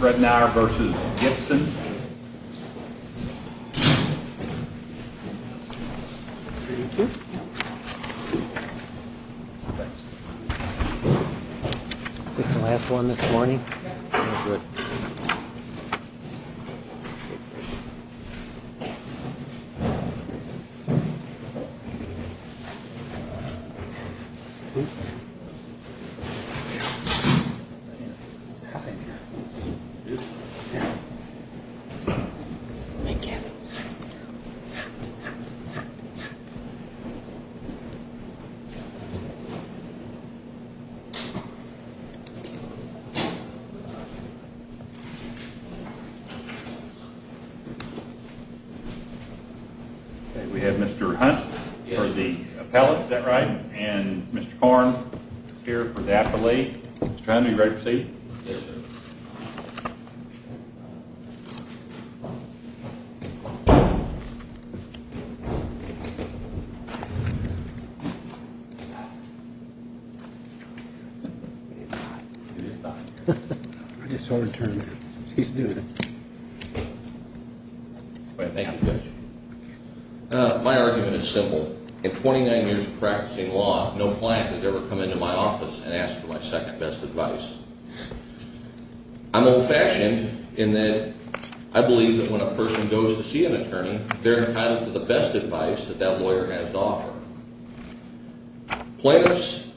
Ridenour v. Gibson We have Mr. Hunt for the appellate, is that right? Yes, sir. And Mr. Korn, here for the appellate. Mr. Hunt, are you ready to proceed? Yes, sir. I just told her to turn around. She's doing it. Thank you, Judge. My argument is simple. I believe that when a person goes to see an attorney, they're entitled to the best advice that that lawyer has to offer. Plaintiff's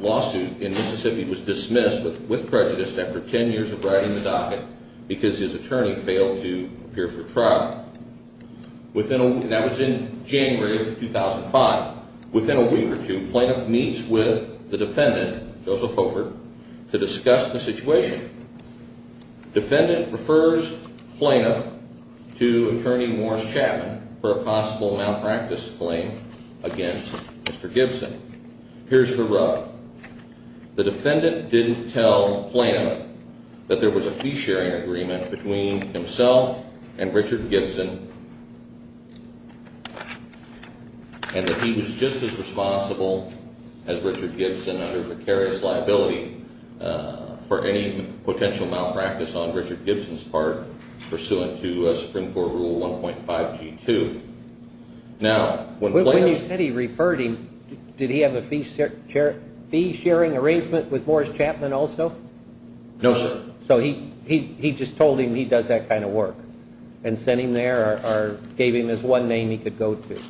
lawsuit in Mississippi was dismissed with prejudice after 10 years of riding the docket because his attorney failed to appear for trial. That was in January of 2005. Within a week or two, plaintiff meets with the defendant, Joseph Hofert, to discuss the situation. Defendant refers plaintiff to attorney Morris Chapman for a possible malpractice claim against Mr. Gibson. Here's the rub. The defendant didn't tell plaintiff that there was a fee-sharing agreement between himself and Richard Gibson and that he was just as responsible as Richard Gibson under precarious liability for any potential malpractice on Richard Gibson's part pursuant to Supreme Court Rule 1.5G2. Now, when plaintiff... When you said he referred him, did he have a fee-sharing arrangement with Morris Chapman also? No, sir. So he just told him he does that kind of work and sent him there or gave him as one name he could go to?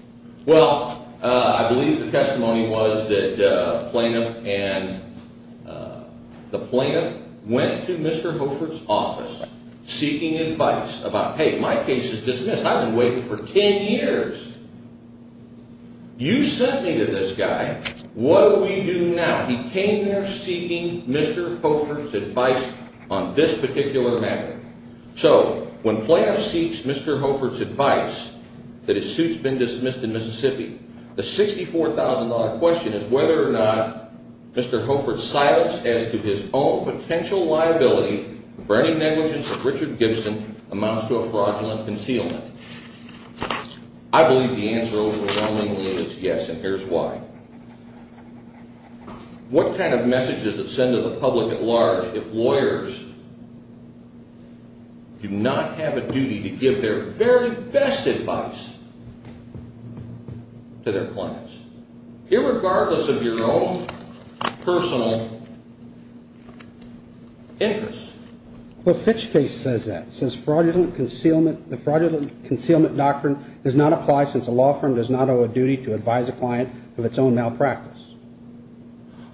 Well, I believe the testimony was that plaintiff and the plaintiff went to Mr. Hofert's office seeking advice about, hey, my case is dismissed, I've been waiting for 10 years. You sent me to this guy, what do we do now? Now, he came there seeking Mr. Hofert's advice on this particular matter. So when plaintiff seeks Mr. Hofert's advice that his suit's been dismissed in Mississippi, the $64,000 question is whether or not Mr. Hofert's silence as to his own potential liability for any negligence of Richard Gibson amounts to a fraudulent concealment. I believe the answer overwhelmingly is yes, and here's why. What kind of message does it send to the public at large if lawyers do not have a duty to give their very best advice to their clients, irregardless of your own personal interests? Well, Fitch case says that, it says fraudulent concealment, the fraudulent concealment doctrine does not apply since a law firm does not owe a duty to advise a client of its own malpractice.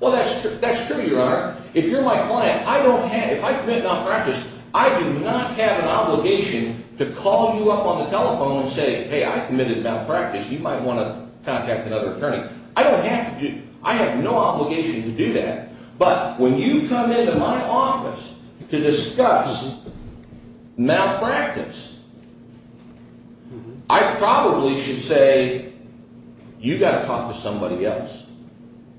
Well, that's true, your honor, if you're my client, I don't have, if I commit malpractice, I do not have an obligation to call you up on the telephone and say, hey, I committed malpractice, you might want to contact another attorney. I don't have to, I have no obligation to do that. But when you come into my office to discuss malpractice, I probably should say, you've got to talk to somebody else.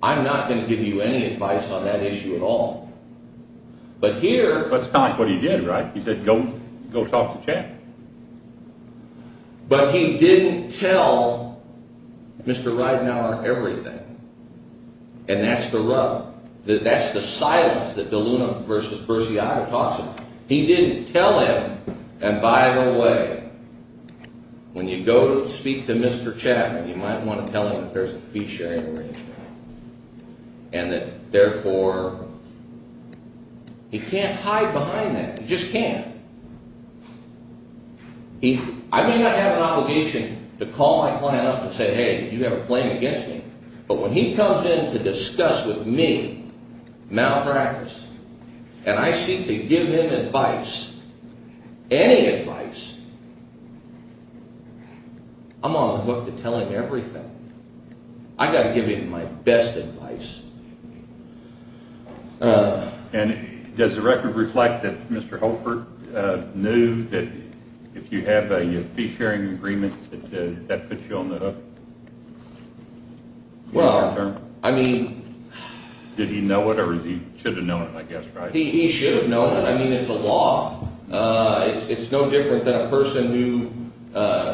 I'm not going to give you any advice on that issue at all. But here... That's not what he did, right? He said, go talk to the chairman. But he didn't tell Mr. Ridenour everything, and that's the rub, that's the silence that DeLuna versus Bersiaga talks about. He didn't tell him, and by the way, when you go to speak to Mr. Chapman, you might want to tell him that there's a fee-sharing arrangement, and that therefore, he can't hide behind that, he just can't. I may not have an obligation to call my client up and say, hey, did you ever claim against me, but when he comes in to discuss with me malpractice, and I seek to give him advice, any advice, I'm on the hook to tell him everything. I've got to give him my best advice. And does the record reflect that Mr. Holford knew that if you have a fee-sharing agreement, that that puts you on the hook? Well, I mean... Did he know it, or he should have known it, I guess, right? He should have known it. I mean, it's a law. It's no different than a person who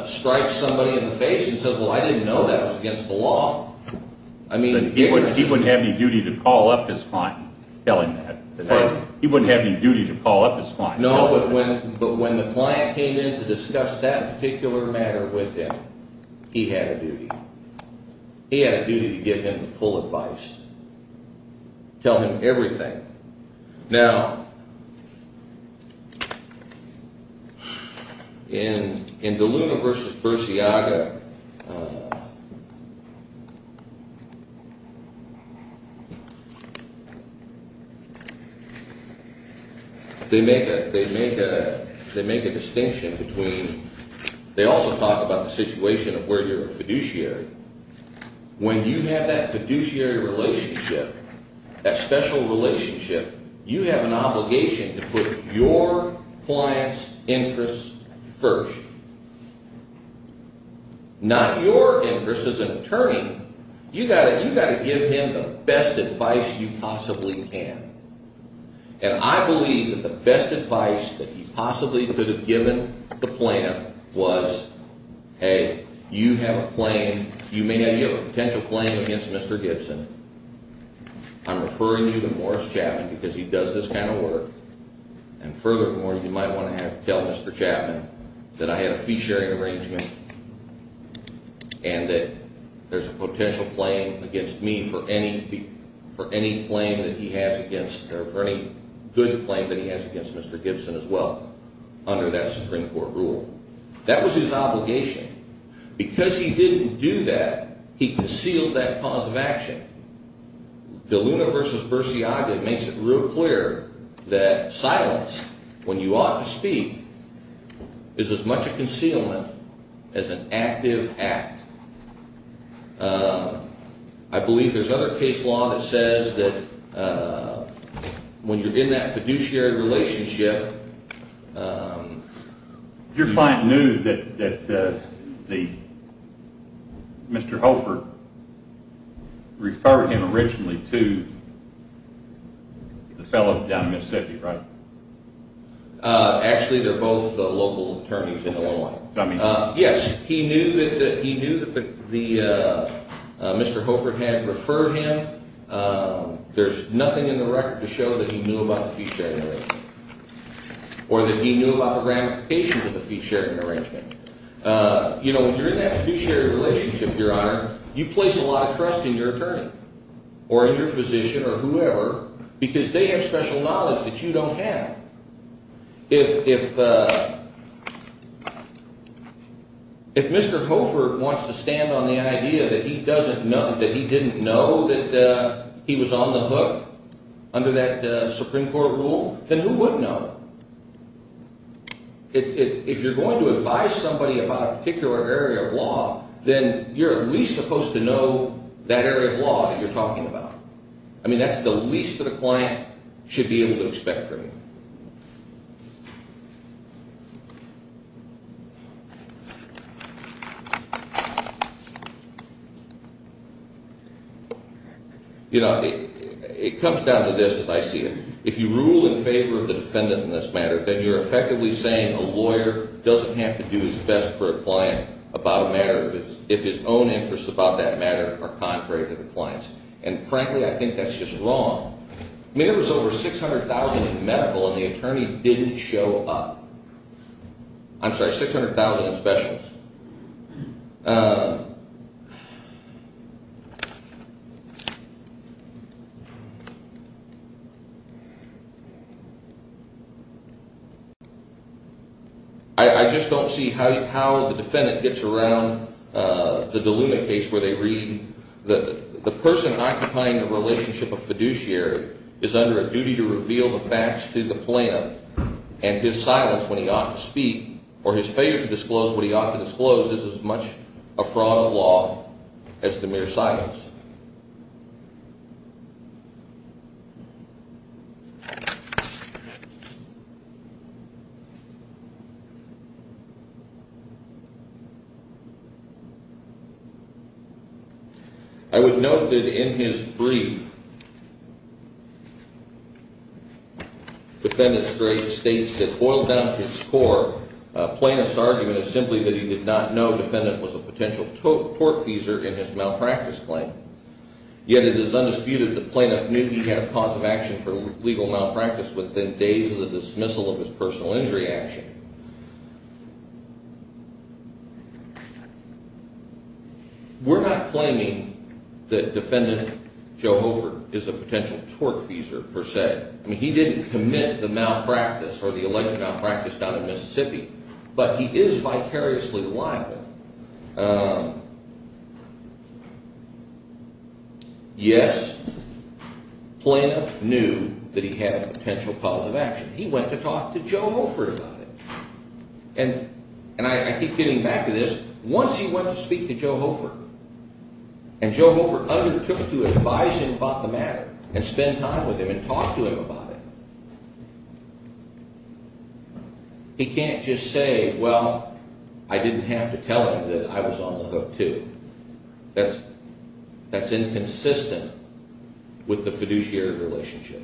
strikes somebody in the face and says, well, I didn't know that was against the law. He wouldn't have any duty to call up his client and tell him that. He wouldn't have any duty to call up his client. No, but when the client came in to discuss that particular matter with him, he had a duty. He had a duty to give him full advice, tell him everything. Now, in De Luna v. Bursiaga, they make a distinction between... They also talk about the situation of where you're a fiduciary. When you have that fiduciary relationship, that special relationship, you have an obligation to put your client's interests first, not your interests as an attorney. You've got to give him the best advice you possibly can. And I believe that the best advice that he possibly could have given the plaintiff was, hey, you may have a potential claim against Mr. Gibson. I'm referring you to Morris Chapman because he does this kind of work. And furthermore, you might want to tell Mr. Chapman that I had a fiduciary arrangement and that there's a potential claim against me for any good claim that he has against Mr. Gibson as well under that Supreme Court rule. That was his obligation. Because he didn't do that, he concealed that cause of action. De Luna v. Bursiaga makes it real clear that silence, when you ought to speak, is as much a concealment as an active act. I believe there's other case law that says that when you're in that fiduciary relationship... Your client knew that Mr. Holford referred him originally to the fellow down in Mississippi, right? Actually, they're both local attorneys in Illinois. Yes, he knew that Mr. Holford had referred him. There's nothing in the record to show that he knew about the fiduciary arrangement or that he knew about the ramifications of the fiduciary arrangement. When you're in that fiduciary relationship, Your Honor, you place a lot of trust in your attorney or in your physician or whoever because they have special knowledge that you don't have. If Mr. Holford wants to stand on the idea that he didn't know that he was on the hook under that Supreme Court rule, then who would know? If you're going to advise somebody about a particular area of law, then you're at least supposed to know that area of law that you're talking about. I mean, that's the least that a client should be able to expect from you. You know, it comes down to this, as I see it. If you rule in favor of the defendant in this matter, then you're effectively saying a lawyer doesn't have to do his best for a client about a matter if his own interests about that matter are contrary to the client's. And frankly, I think that's just wrong. I mean, there was over 600,000 in medical and the attorney didn't show up. I'm sorry, 600,000 in specialists. I just don't see how the defendant gets around the DeLuna case where they read the person occupying the relationship of fiduciary is under a duty to reveal the facts to the plaintiff and his silence when he ought to speak or his failure to disclose what he ought to disclose is as much a fraud of law as the mere silence. I would note that in his brief, the defendant states that boiled down to its core, plaintiff's argument is simply that he did not know the defendant was a potential tortfeasor in his malpractice claim. Yet it is undisputed the plaintiff knew he had a cause of action for legal malpractice within days of the dismissal of his personal injury action. We're not claiming that defendant Joe Hofer is a potential tortfeasor per se. I mean, he didn't commit the malpractice or the alleged malpractice down in Mississippi, but he is vicariously liable. Yes, plaintiff knew that he had a potential cause of action. He went to talk to Joe Hofer about it. And I keep getting back to this. Once he went to speak to Joe Hofer and Joe Hofer undertook to advise him about the matter and spend time with him and talk to him about it, he can't just say, well, I didn't have to tell him that I was on the hook too. That's inconsistent with the fiduciary relationship.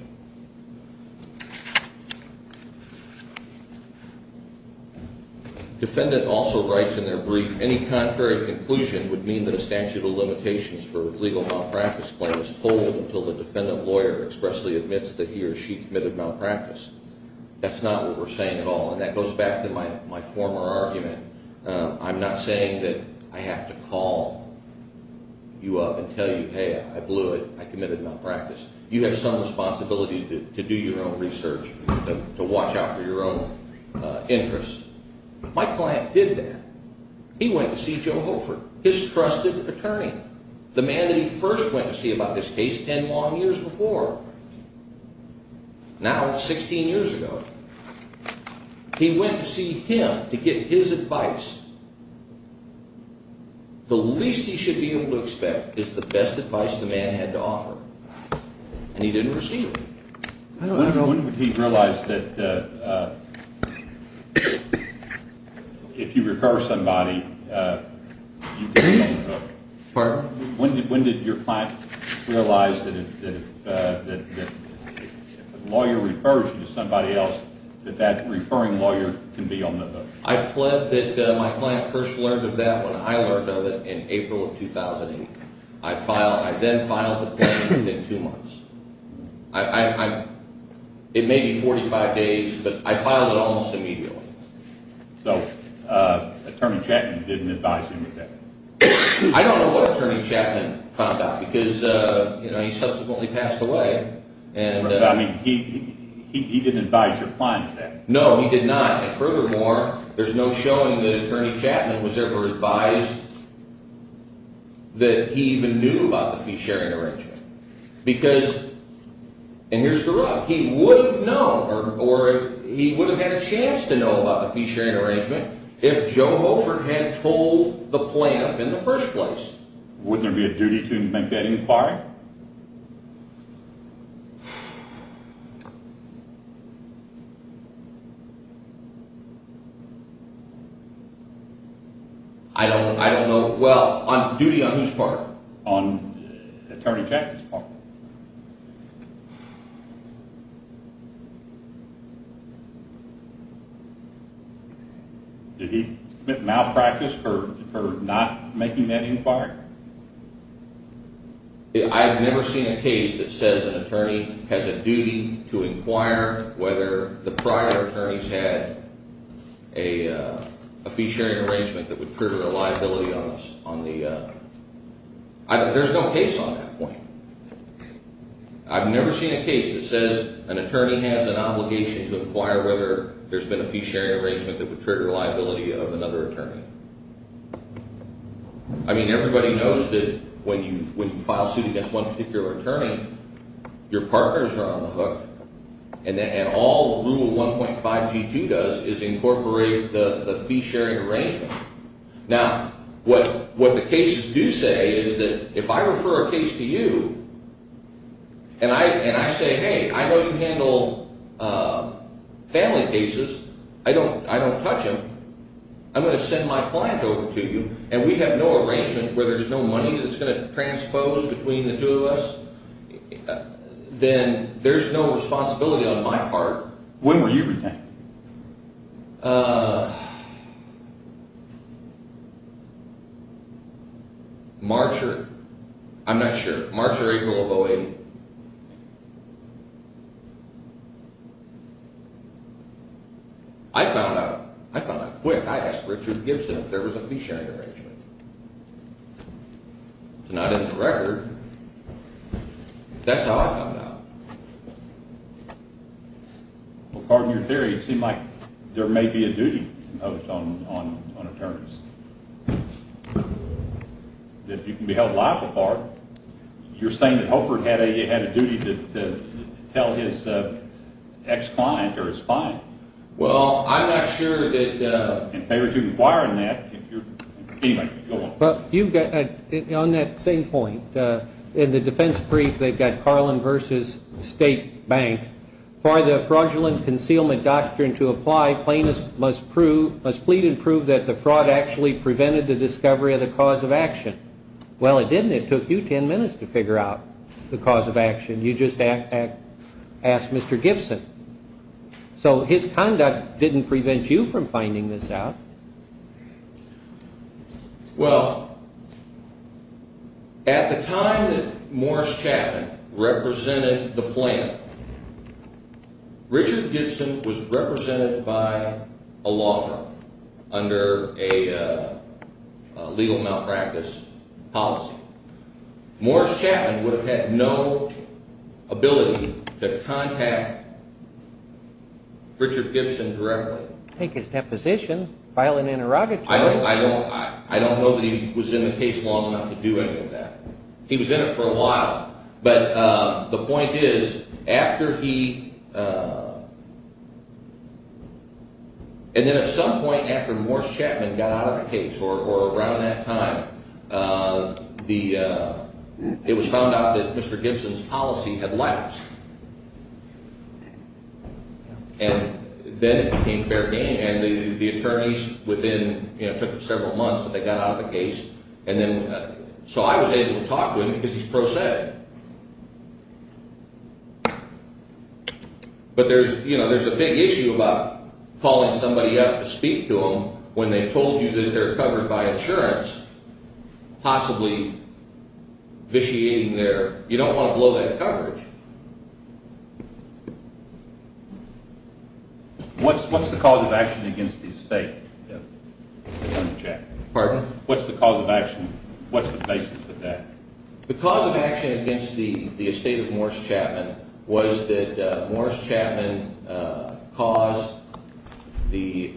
Defendant also writes in their brief, any contrary conclusion would mean that a statute of limitations for legal malpractice claims holds until the defendant lawyer expressly admits that he or she committed malpractice. That's not what we're saying at all, and that goes back to my former argument. I'm not saying that I have to call you up and tell you, hey, I blew it, I committed malpractice. You have some responsibility to do your own research, to watch out for your own interests. My client did that. He went to see Joe Hofer, his trusted attorney. The man that he first went to see about this case ten long years before, now 16 years ago, he went to see him to get his advice. The least he should be able to expect is the best advice the man had to offer, and he didn't receive it. When did he realize that if you refer somebody, you can be on the hook? Pardon? When did your client realize that if a lawyer refers you to somebody else, that that referring lawyer can be on the hook? I pled that my client first learned of that when I learned of it in April of 2008. I then filed the claim within two months. It may be 45 days, but I filed it almost immediately. So Attorney Chapman didn't advise him of that? I don't know what Attorney Chapman found out, because he subsequently passed away. He didn't advise your client of that? No, he did not. Furthermore, there's no showing that Attorney Chapman was ever advised that he even knew about the fee-sharing arrangement. Because, and here's the rub, he would have known, or he would have had a chance to know about the fee-sharing arrangement if Joe Hofer had told the plaintiff in the first place. Wouldn't there be a duty to make that inquiry? I don't know. Well, duty on whose part? On Attorney Chapman's part. Did he malpractice for not making that inquiry? I've never seen a case that says an attorney has a duty to inquire whether the prior attorneys had a fee-sharing arrangement that would put a liability on the, there's no case on that point. I've never seen a case that says an attorney has an obligation to inquire whether there's been a fee-sharing arrangement that would trigger a liability of another attorney. I mean, everybody knows that when you file a suit against one particular attorney, your partners are on the hook, and all Rule 1.5G2 does is incorporate the fee-sharing arrangement. Now, what the cases do say is that if I refer a case to you, and I say, hey, I know you handle family cases, I don't touch them, I'm going to send my client over to you, and we have no arrangement where there's no money that's going to transpose between the two of us, then there's no responsibility on my part. When were you rejected? March or, I'm not sure, March or April of 08. I found out, I found out quick. I asked Richard Gibson if there was a fee-sharing arrangement. It's not in the record. That's how I found out. Well, pardon your theory. It seemed like there may be a duty imposed on attorneys. If you can be held liable for it, you're saying that Holford had a duty to tell his ex-client or his client. Well, I'm not sure that... In favor of requiring that, if you're... Anyway, go on. You've got, on that same point, in the defense brief they've got Carlin v. State Bank. For the fraudulent concealment doctrine to apply, plaintiffs must plead and prove that the fraud actually prevented the discovery of the cause of action. Well, it didn't. It took you ten minutes to figure out the cause of action. You just asked Mr. Gibson. So his conduct didn't prevent you from finding this out. Well, at the time that Morris Chapman represented the plaintiff, Richard Gibson was represented by a law firm under a legal malpractice policy. Morris Chapman would have had no ability to contact Richard Gibson directly. Take his deposition, file an interrogatory. I don't know that he was in the case long enough to do any of that. He was in it for a while. But the point is, after he... And then at some point after Morris Chapman got out of the case, or around that time, it was found out that Mr. Gibson's policy had lapsed. And then it became fair game. And the attorneys within... It took them several months, but they got out of the case. And then... So I was able to talk to him because he's pro se. But there's a big issue about calling somebody up to speak to them when they've told you that they're covered by insurance, possibly vitiating their... What's the cause of action against the estate, Attorney Chapman? Pardon? What's the cause of action? What's the basis of that? The cause of action against the estate of Morris Chapman was that Morris Chapman caused the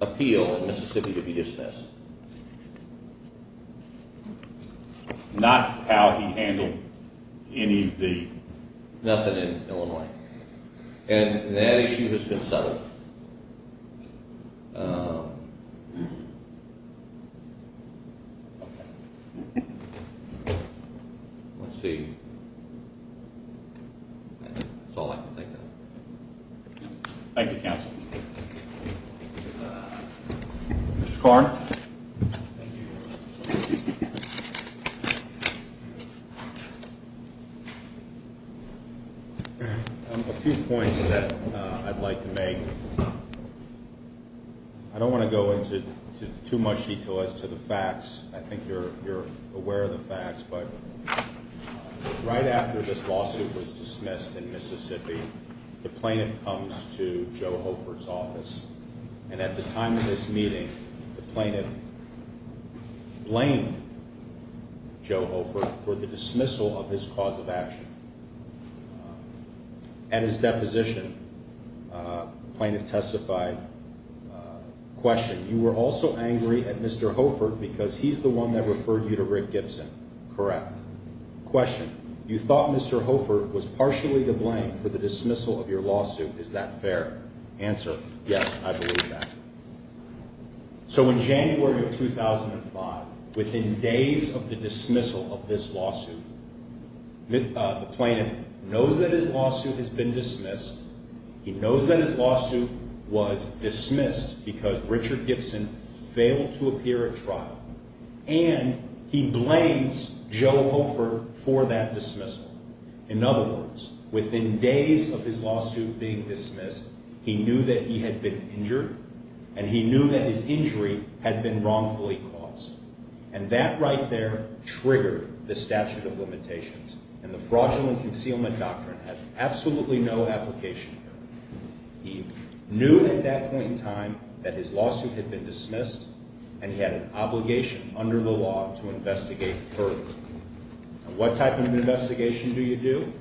appeal in Mississippi to be dismissed. Not how he handled any of the... Nothing in Illinois. And that issue has been settled. Let's see. That's all I can think of. Thank you, counsel. Mr. Karn? Thank you. A few points that I'd like to make. I don't want to go into too much detail as to the facts. I think you're aware of the facts. But right after this lawsuit was dismissed in Mississippi, the plaintiff comes to Joe Hoford's office. And at the time of this meeting, the plaintiff blamed Joe Hoford for the dismissal of his cause of action. At his deposition, the plaintiff testified, Question, you were also angry at Mr. Hoford because he's the one that referred you to Rick Gibson. Correct. Question, you thought Mr. Hoford was partially to blame for the dismissal of your lawsuit. Is that fair? Answer, yes, I believe that. So in January of 2005, within days of the dismissal of this lawsuit, the plaintiff knows that his lawsuit has been dismissed. He knows that his lawsuit was dismissed because Richard Gibson failed to appear at trial. And he blames Joe Hoford for that dismissal. In other words, within days of his lawsuit being dismissed, he knew that he had been injured, and he knew that his injury had been wrongfully caused. And that right there triggered the statute of limitations. And the fraudulent concealment doctrine has absolutely no application here. He knew at that point in time that his lawsuit had been dismissed, and he had an obligation under the law to investigate further. What type of investigation do you do?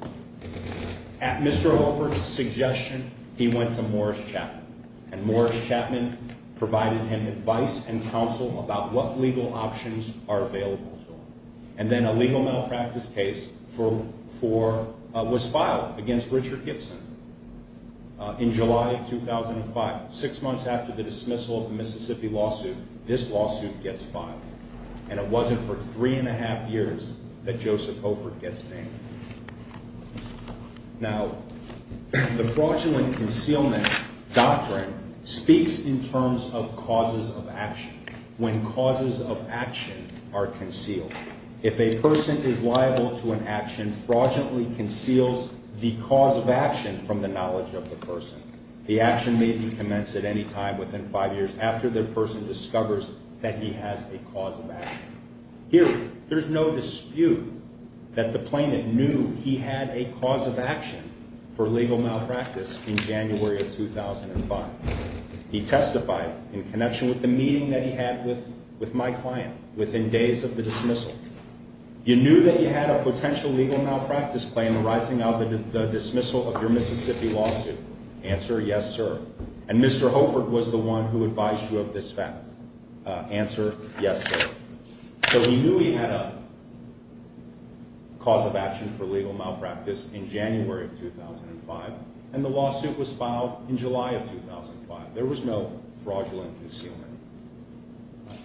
At Mr. Hoford's suggestion, he went to Morris Chapman, and Morris Chapman provided him advice and counsel about what legal options are available to him. And then a legal malpractice case was filed against Richard Gibson in July of 2005. Six months after the dismissal of the Mississippi lawsuit, this lawsuit gets filed. And it wasn't for three and a half years that Joseph Hoford gets banned. Now, the fraudulent concealment doctrine speaks in terms of causes of action. When causes of action are concealed. If a person is liable to an action, fraudulently conceals the cause of action from the knowledge of the person. The action may be commenced at any time within five years after the person discovers that he has a cause of action. Here, there's no dispute that the plaintiff knew he had a cause of action for legal malpractice in January of 2005. He testified in connection with the meeting that he had with my client within days of the dismissal. You knew that you had a potential legal malpractice claim arising out of the dismissal of your Mississippi lawsuit. Answer, yes, sir. And Mr. Hoford was the one who advised you of this fact. Answer, yes, sir. So he knew he had a cause of action for legal malpractice in January of 2005. And the lawsuit was filed in July of 2005. There was no fraudulent concealment.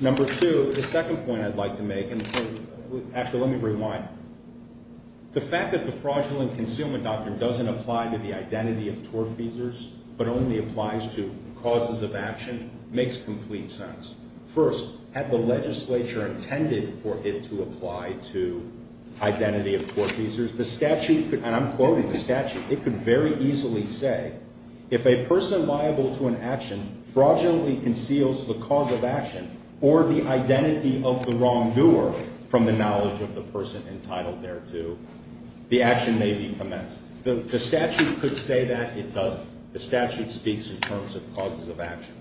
Number two, the second point I'd like to make, and actually let me rewind. The fact that the fraudulent concealment doctrine doesn't apply to the identity of tortfeasors but only applies to causes of action makes complete sense. First, had the legislature intended for it to apply to identity of tortfeasors, the statute could, and I'm quoting the statute, it could very easily say if a person liable to an action fraudulently conceals the cause of action or the identity of the wrongdoer from the knowledge of the person entitled thereto, the action may be commenced. The statute could say that. It doesn't. The statute speaks in terms of causes of action.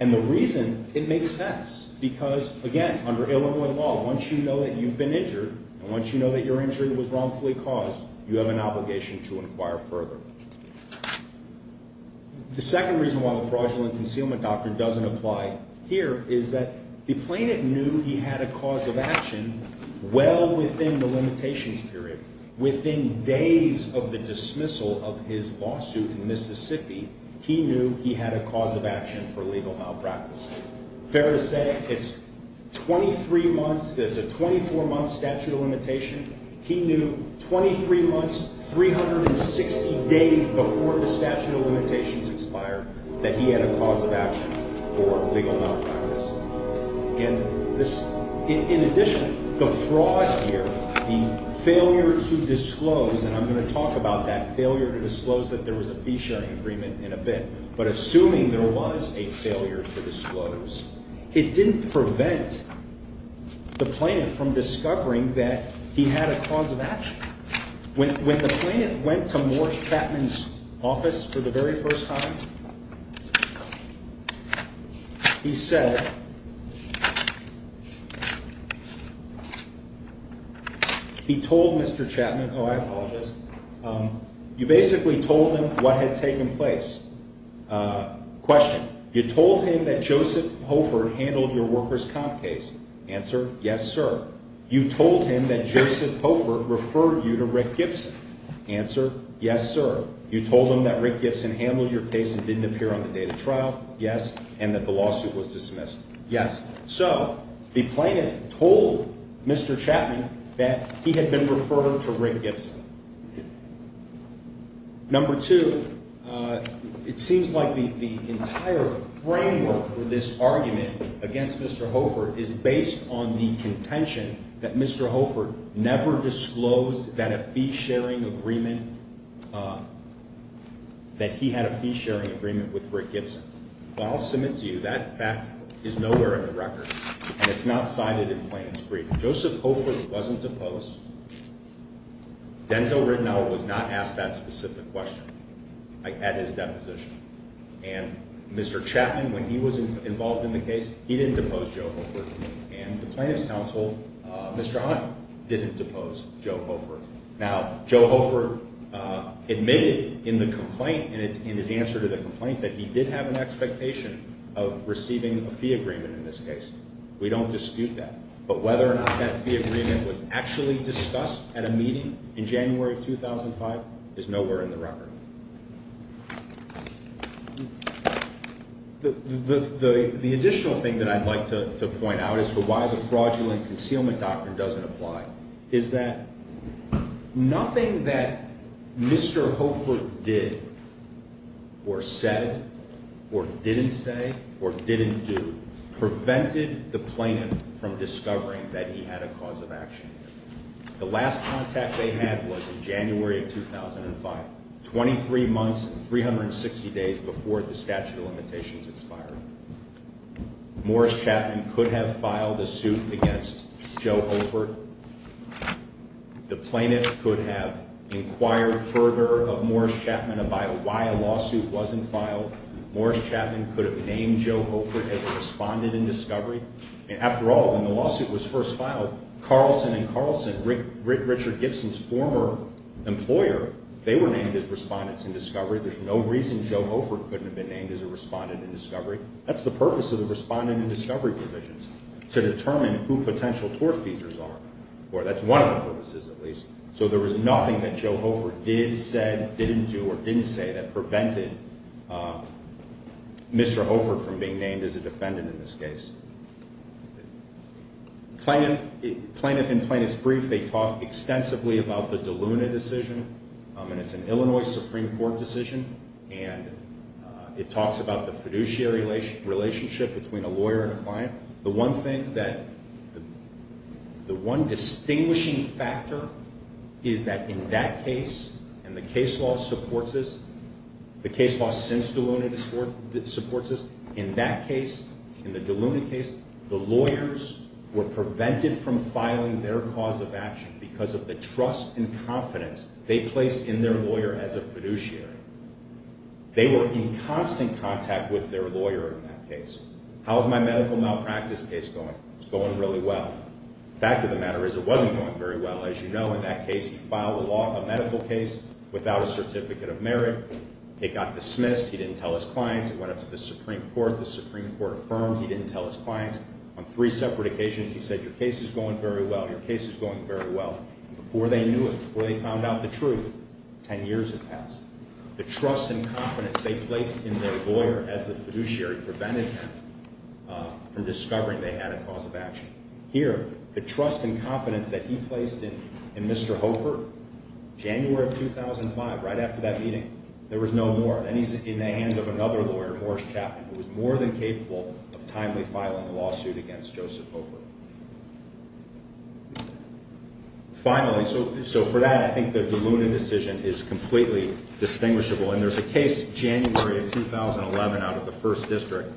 And the reason it makes sense because, again, under Illinois law, once you know that you've been injured and once you know that your injury was wrongfully caused, you have an obligation to inquire further. The second reason why the fraudulent concealment doctrine doesn't apply here is that the plaintiff knew he had a cause of action well within the limitations period. Within days of the dismissal of his lawsuit in Mississippi, he knew he had a cause of action for legal malpractice. Fair to say, it's 23 months. There's a 24-month statute of limitation. He knew 23 months, 360 days before the statute of limitations expired that he had a cause of action for legal malpractice. In addition, the fraud here, the failure to disclose, and I'm going to talk about that failure to disclose that there was a fee-sharing agreement in a bit, but assuming there was a failure to disclose, it didn't prevent the plaintiff from discovering that he had a cause of action. When the plaintiff went to Morris Chapman's office for the very first time, he said, he told Mr. Chapman, oh, I apologize, you basically told him what had taken place. Question, you told him that Joseph Hofer handled your workers' comp case. Answer, yes, sir. You told him that Joseph Hofer referred you to Rick Gibson. Answer, yes, sir. You told him that Rick Gibson handled your case and didn't appear on the day of the trial. Yes, and that the lawsuit was dismissed. Yes. So the plaintiff told Mr. Chapman that he had been referred to Rick Gibson. Number two, it seems like the entire framework for this argument against Mr. Hofer is based on the contention that Mr. Hofer never disclosed that a fee-sharing agreement, that he had a fee-sharing agreement with Rick Gibson. What I'll submit to you, that fact is nowhere in the record, and it's not cited in the plaintiff's brief. Joseph Hofer wasn't deposed. Denzel Rittenhouse was not asked that specific question at his deposition. And Mr. Chapman, when he was involved in the case, he didn't depose Joe Hofer. And the plaintiff's counsel, Mr. Hunt, didn't depose Joe Hofer. Now, Joe Hofer admitted in the complaint, in his answer to the complaint, that he did have an expectation of receiving a fee agreement in this case. We don't dispute that. But whether or not that fee agreement was actually discussed at a meeting in January of 2005 is nowhere in the record. The additional thing that I'd like to point out as to why the fraudulent concealment doctrine doesn't apply is that nothing that Mr. Hofer did or said or didn't say or didn't do prevented the plaintiff from discovering that he had a cause of action. The last contact they had was in January of 2005, 23 months and 360 days before the statute of limitations expired. Morris Chapman could have filed a suit against Joe Hofer. The plaintiff could have inquired further of Morris Chapman about why a lawsuit wasn't filed. Morris Chapman could have named Joe Hofer as a respondent in discovery. After all, when the lawsuit was first filed, Carlson and Carlson, Richard Gibson's former employer, they were named as respondents in discovery. There's no reason Joe Hofer couldn't have been named as a respondent in discovery. That's the purpose of the respondent in discovery provisions, to determine who potential tortfeasors are. That's one of the purposes, at least. So there was nothing that Joe Hofer did, said, didn't do, or didn't say that prevented Mr. Hofer from being named as a defendant in this case. Plaintiff in Plaintiff's Brief, they talk extensively about the DeLuna decision, and it's an Illinois Supreme Court decision, and it talks about the fiduciary relationship between a lawyer and a client. The one thing that, the one distinguishing factor is that in that case, and the case law supports this, the case law since DeLuna supports this, in that case, in the DeLuna case, the lawyers were prevented from filing their cause of action because of the trust and confidence they placed in their lawyer as a fiduciary. They were in constant contact with their lawyer in that case. How's my medical malpractice case going? It's going really well. The fact of the matter is it wasn't going very well. As you know, in that case, he filed a medical case without a certificate of merit. It got dismissed. He didn't tell his clients. It went up to the Supreme Court. The Supreme Court affirmed. He didn't tell his clients. On three separate occasions, he said, your case is going very well. Your case is going very well. Before they knew it, before they found out the truth, ten years had passed. The trust and confidence they placed in their lawyer as a fiduciary prevented him from discovering they had a cause of action. Here, the trust and confidence that he placed in Mr. Hofer, January of 2005, right after that meeting, there was no more. Then he's in the hands of another lawyer, Morris Chapman, who was more than capable of timely filing a lawsuit against Joseph Hofer. Finally, so for that, I think the DeLuna decision is completely distinguishable. And there's a case, January of 2011, out of the First District,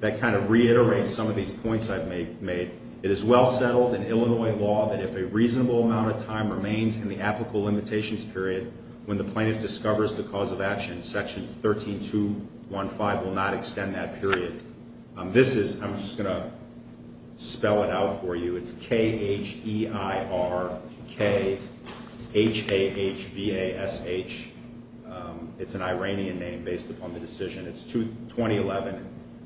that kind of reiterates some of these points I've made. It is well settled in Illinois law that if a reasonable amount of time remains in the applicable limitations period, when the plaintiff discovers the cause of action, Section 13215 will not extend that period. This is, I'm just going to spell it out for you. It's K-H-E-I-R-K-H-A-H-V-A-S-H. It's an Iranian name based upon the decision. It's 2011,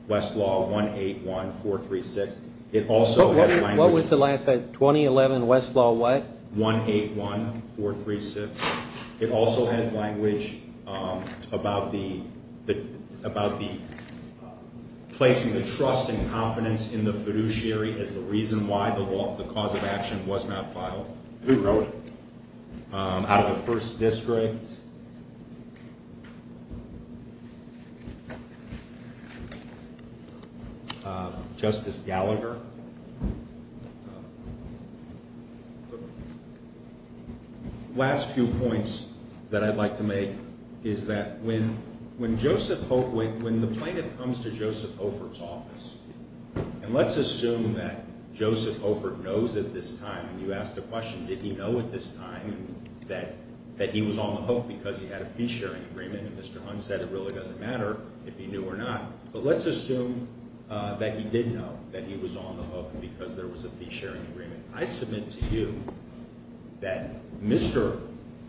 Westlaw 181436. It also has language. What was the last one? 2011, Westlaw what? 181436. It also has language about placing the trust and confidence in the fiduciary as the reason why the cause of action was not filed. Who wrote it? Out of the First District. Justice Gallagher. The last few points that I'd like to make is that when the plaintiff comes to Joseph Hoford's office, and let's assume that Joseph Hoford knows at this time, and you ask the question, did he know at this time that he was on the hook because he had a fee-sharing agreement and Mr. Hunt said it really doesn't matter if he knew or not, but let's assume that he did know that he was on the hook because there was a fee-sharing agreement. I submit to you that Mr.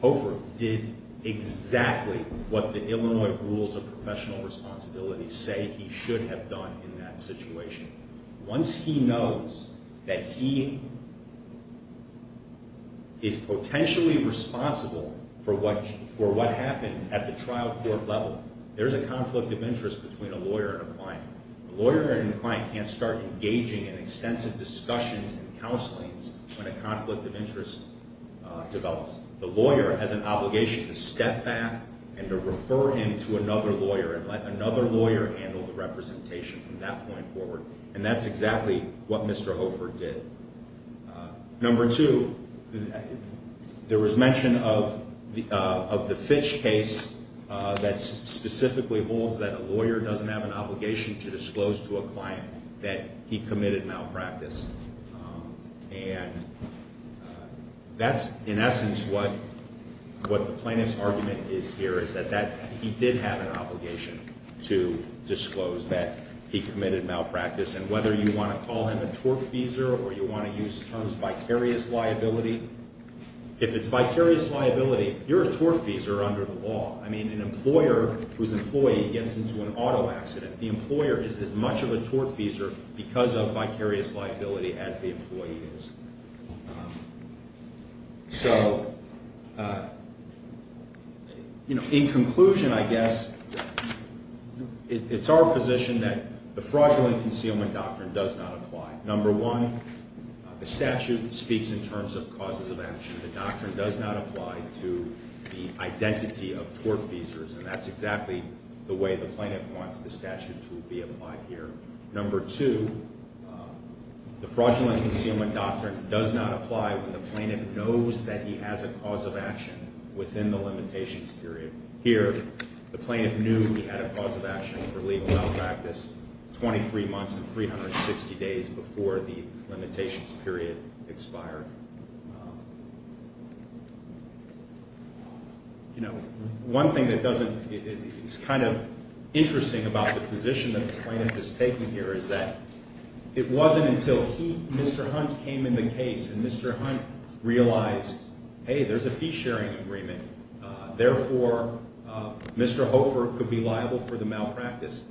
Hoford did exactly what the Illinois rules of professional responsibility say he should have done in that situation. Once he knows that he is potentially responsible for what happened at the trial court level, there's a conflict of interest between a lawyer and a client. A lawyer and a client can't start engaging in extensive discussions and counselings when a conflict of interest develops. The lawyer has an obligation to step back and to refer him to another lawyer and let another lawyer handle the representation from that point forward, and that's exactly what Mr. Hoford did. Number two, there was mention of the Fitch case that specifically holds that a lawyer doesn't have an obligation to disclose to a client that he committed malpractice. And that's, in essence, what the plaintiff's argument is here, is that he did have an obligation to disclose that he committed malpractice, and whether you want to call him a tortfeasor or you want to use terms of vicarious liability, if it's vicarious liability, you're a tortfeasor under the law. I mean, an employer whose employee gets into an auto accident, the employer is as much of a tortfeasor because of vicarious liability as the employee is. In conclusion, I guess, it's our position that the fraudulent concealment doctrine does not apply. Number one, the statute speaks in terms of causes of action. The doctrine does not apply to the identity of tortfeasors, and that's exactly the way the plaintiff wants the statute to be applied here. Number two, the fraudulent concealment doctrine does not apply when the plaintiff knows that he has a cause of action within the limitations period. Here, the plaintiff knew he had a cause of action for legal malpractice 23 months and 360 days before the limitations period expired. You know, one thing that doesn't, it's kind of interesting about the position that the plaintiff is taking here is that it wasn't until he, Mr. Hunt, came in the case and Mr. Hunt realized, hey, there's a fee-sharing agreement. Therefore, Mr. Hofer could be liable for the malpractice.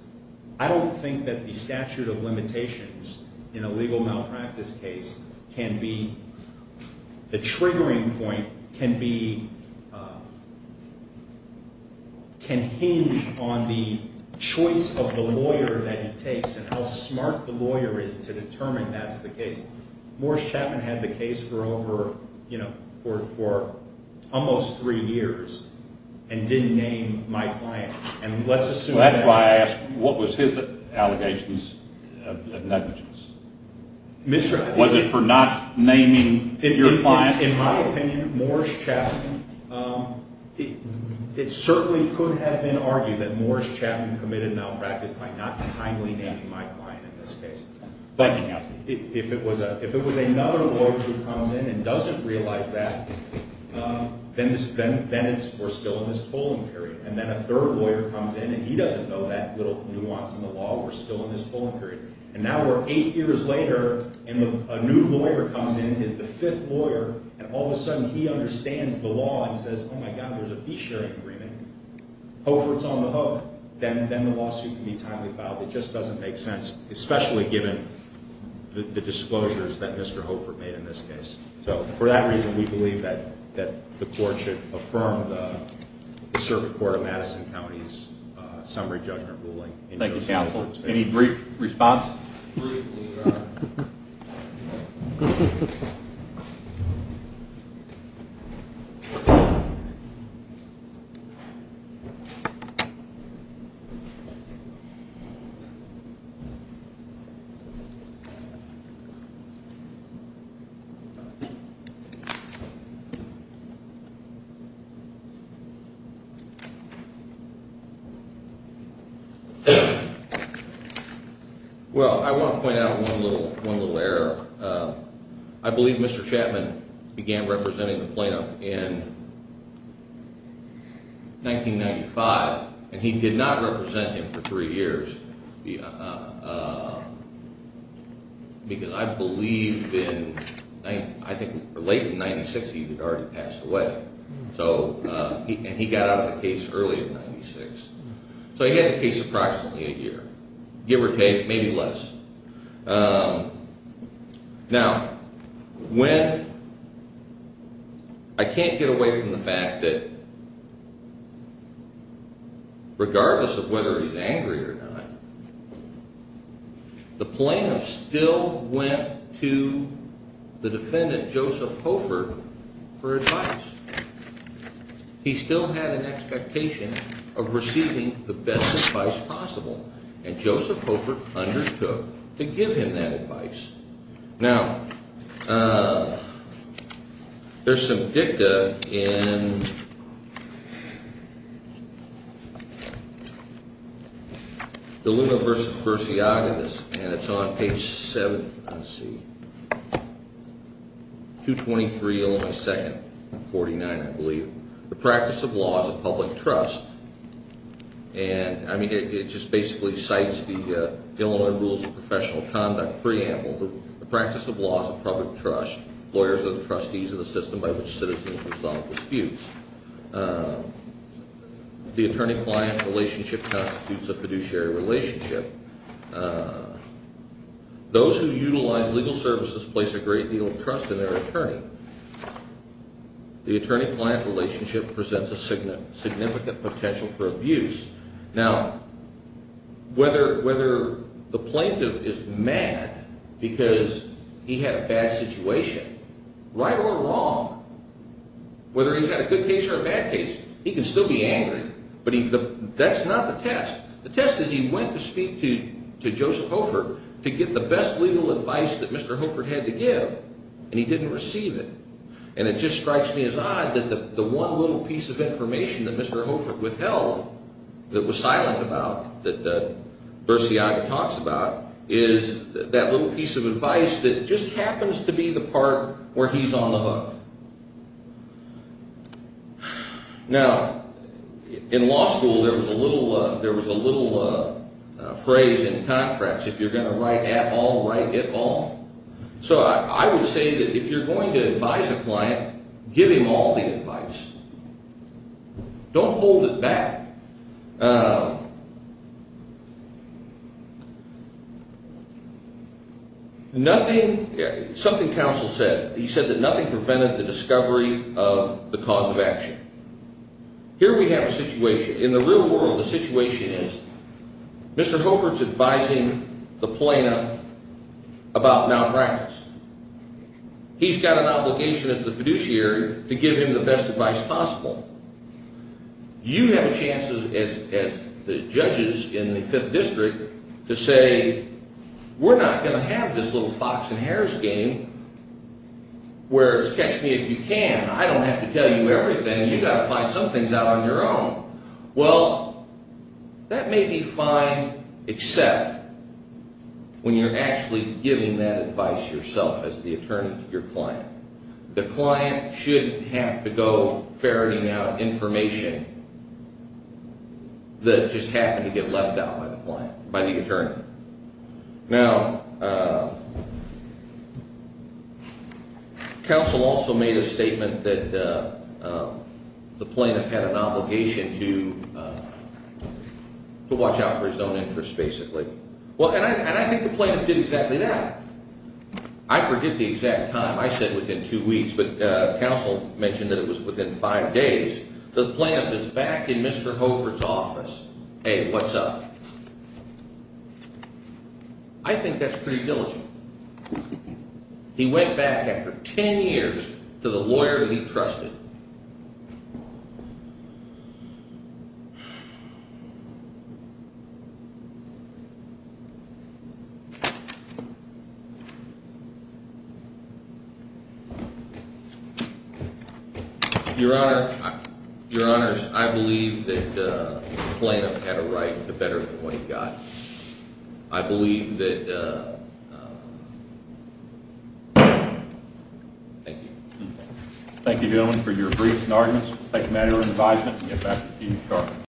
I don't think that the statute of limitations in a legal malpractice case can be, the triggering point can be, can hinge on the choice of the lawyer that he takes and how smart the lawyer is to determine that's the case. Morris Chapman had the case for over, you know, for almost three years and didn't name my client, and let's assume that. That's why I asked, what was his allegations of negligence? Was it for not naming your client? In my opinion, Morris Chapman, it certainly could have been argued that Morris Chapman committed malpractice by not timely naming my client in this case. But if it was another lawyer who comes in and doesn't realize that, then we're still in this polling period. And then a third lawyer comes in and he doesn't know that little nuance in the law, we're still in this polling period. And now we're eight years later and a new lawyer comes in, the fifth lawyer, and all of a sudden he understands the law and says, oh my God, there's a fee sharing agreement. Hofer's on the hook. Then the lawsuit can be timely filed. It just doesn't make sense, especially given the disclosures that Mr. Hofer made in this case. So for that reason, we believe that the court should affirm the Circuit Court of Madison County's summary judgment ruling. Thank you, counsel. Any brief response? Well, I want to point out one little error. I believe Mr. Chapman began representing the plaintiff in 1995, and he did not represent him for three years because I believe in late in 1996 he had already passed away. And he got out of the case early in 1996. So he had the case approximately a year, give or take, maybe less. Now, I can't get away from the fact that regardless of whether he's angry or not, the plaintiff still went to the defendant, Joseph Hofer, for advice. He still had an expectation of receiving the best advice possible, and Joseph Hofer undertook to give him that advice. Now, there's some dicta in the Luna v. Bersiagas, and it's on page 7. Let's see. 223 Illinois 2nd, 49, I believe. The practice of law is a public trust. And, I mean, it just basically cites the Illinois Rules of Professional Conduct preamble. The practice of law is a public trust. Lawyers are the trustees of the system by which citizens resolve disputes. The attorney-client relationship constitutes a fiduciary relationship. Those who utilize legal services place a great deal of trust in their attorney. The attorney-client relationship presents a significant potential for abuse. Now, whether the plaintiff is mad because he had a bad situation, right or wrong, whether he's had a good case or a bad case, he can still be angry. But that's not the test. The test is he went to speak to Joseph Hofer to get the best legal advice that Mr. Hofer had to give, and he didn't receive it. And it just strikes me as odd that the one little piece of information that Mr. Hofer withheld that was silent about, that Bersiaga talks about, is that little piece of advice that just happens to be the part where he's on the hook. Now, in law school, there was a little phrase in contracts, if you're going to write at all, write it all. So I would say that if you're going to advise a client, give him all the advice. Don't hold it back. Something counsel said, he said that nothing prevented the discovery of the cause of action. Here we have a situation. In the real world, the situation is Mr. Hofer is advising the plaintiff about malpractice. He's got an obligation as the fiduciary to give him the best advice possible. You have a chance as the judges in the Fifth District to say, we're not going to have this little Fox and Harris game where it's catch me if you can. I don't have to tell you everything. And you've got to find some things out on your own. Well, that may be fine, except when you're actually giving that advice yourself as the attorney to your client. The client shouldn't have to go ferreting out information that just happened to get left out by the attorney. Now, counsel also made a statement that the plaintiff had an obligation to watch out for his own interests, basically. And I think the plaintiff did exactly that. I forget the exact time. I said within two weeks. But counsel mentioned that it was within five days. The plaintiff is back in Mr. Hofer's office. Hey, what's up? I think that's pretty diligent. He went back after 10 years to the lawyer that he trusted. Your Honor, your honors, I believe that the plaintiff had a right to better what he got. I believe that. Thank you. Thank you, gentlemen, for your briefs and arguments. We'll take manual advisement and get back to you in court.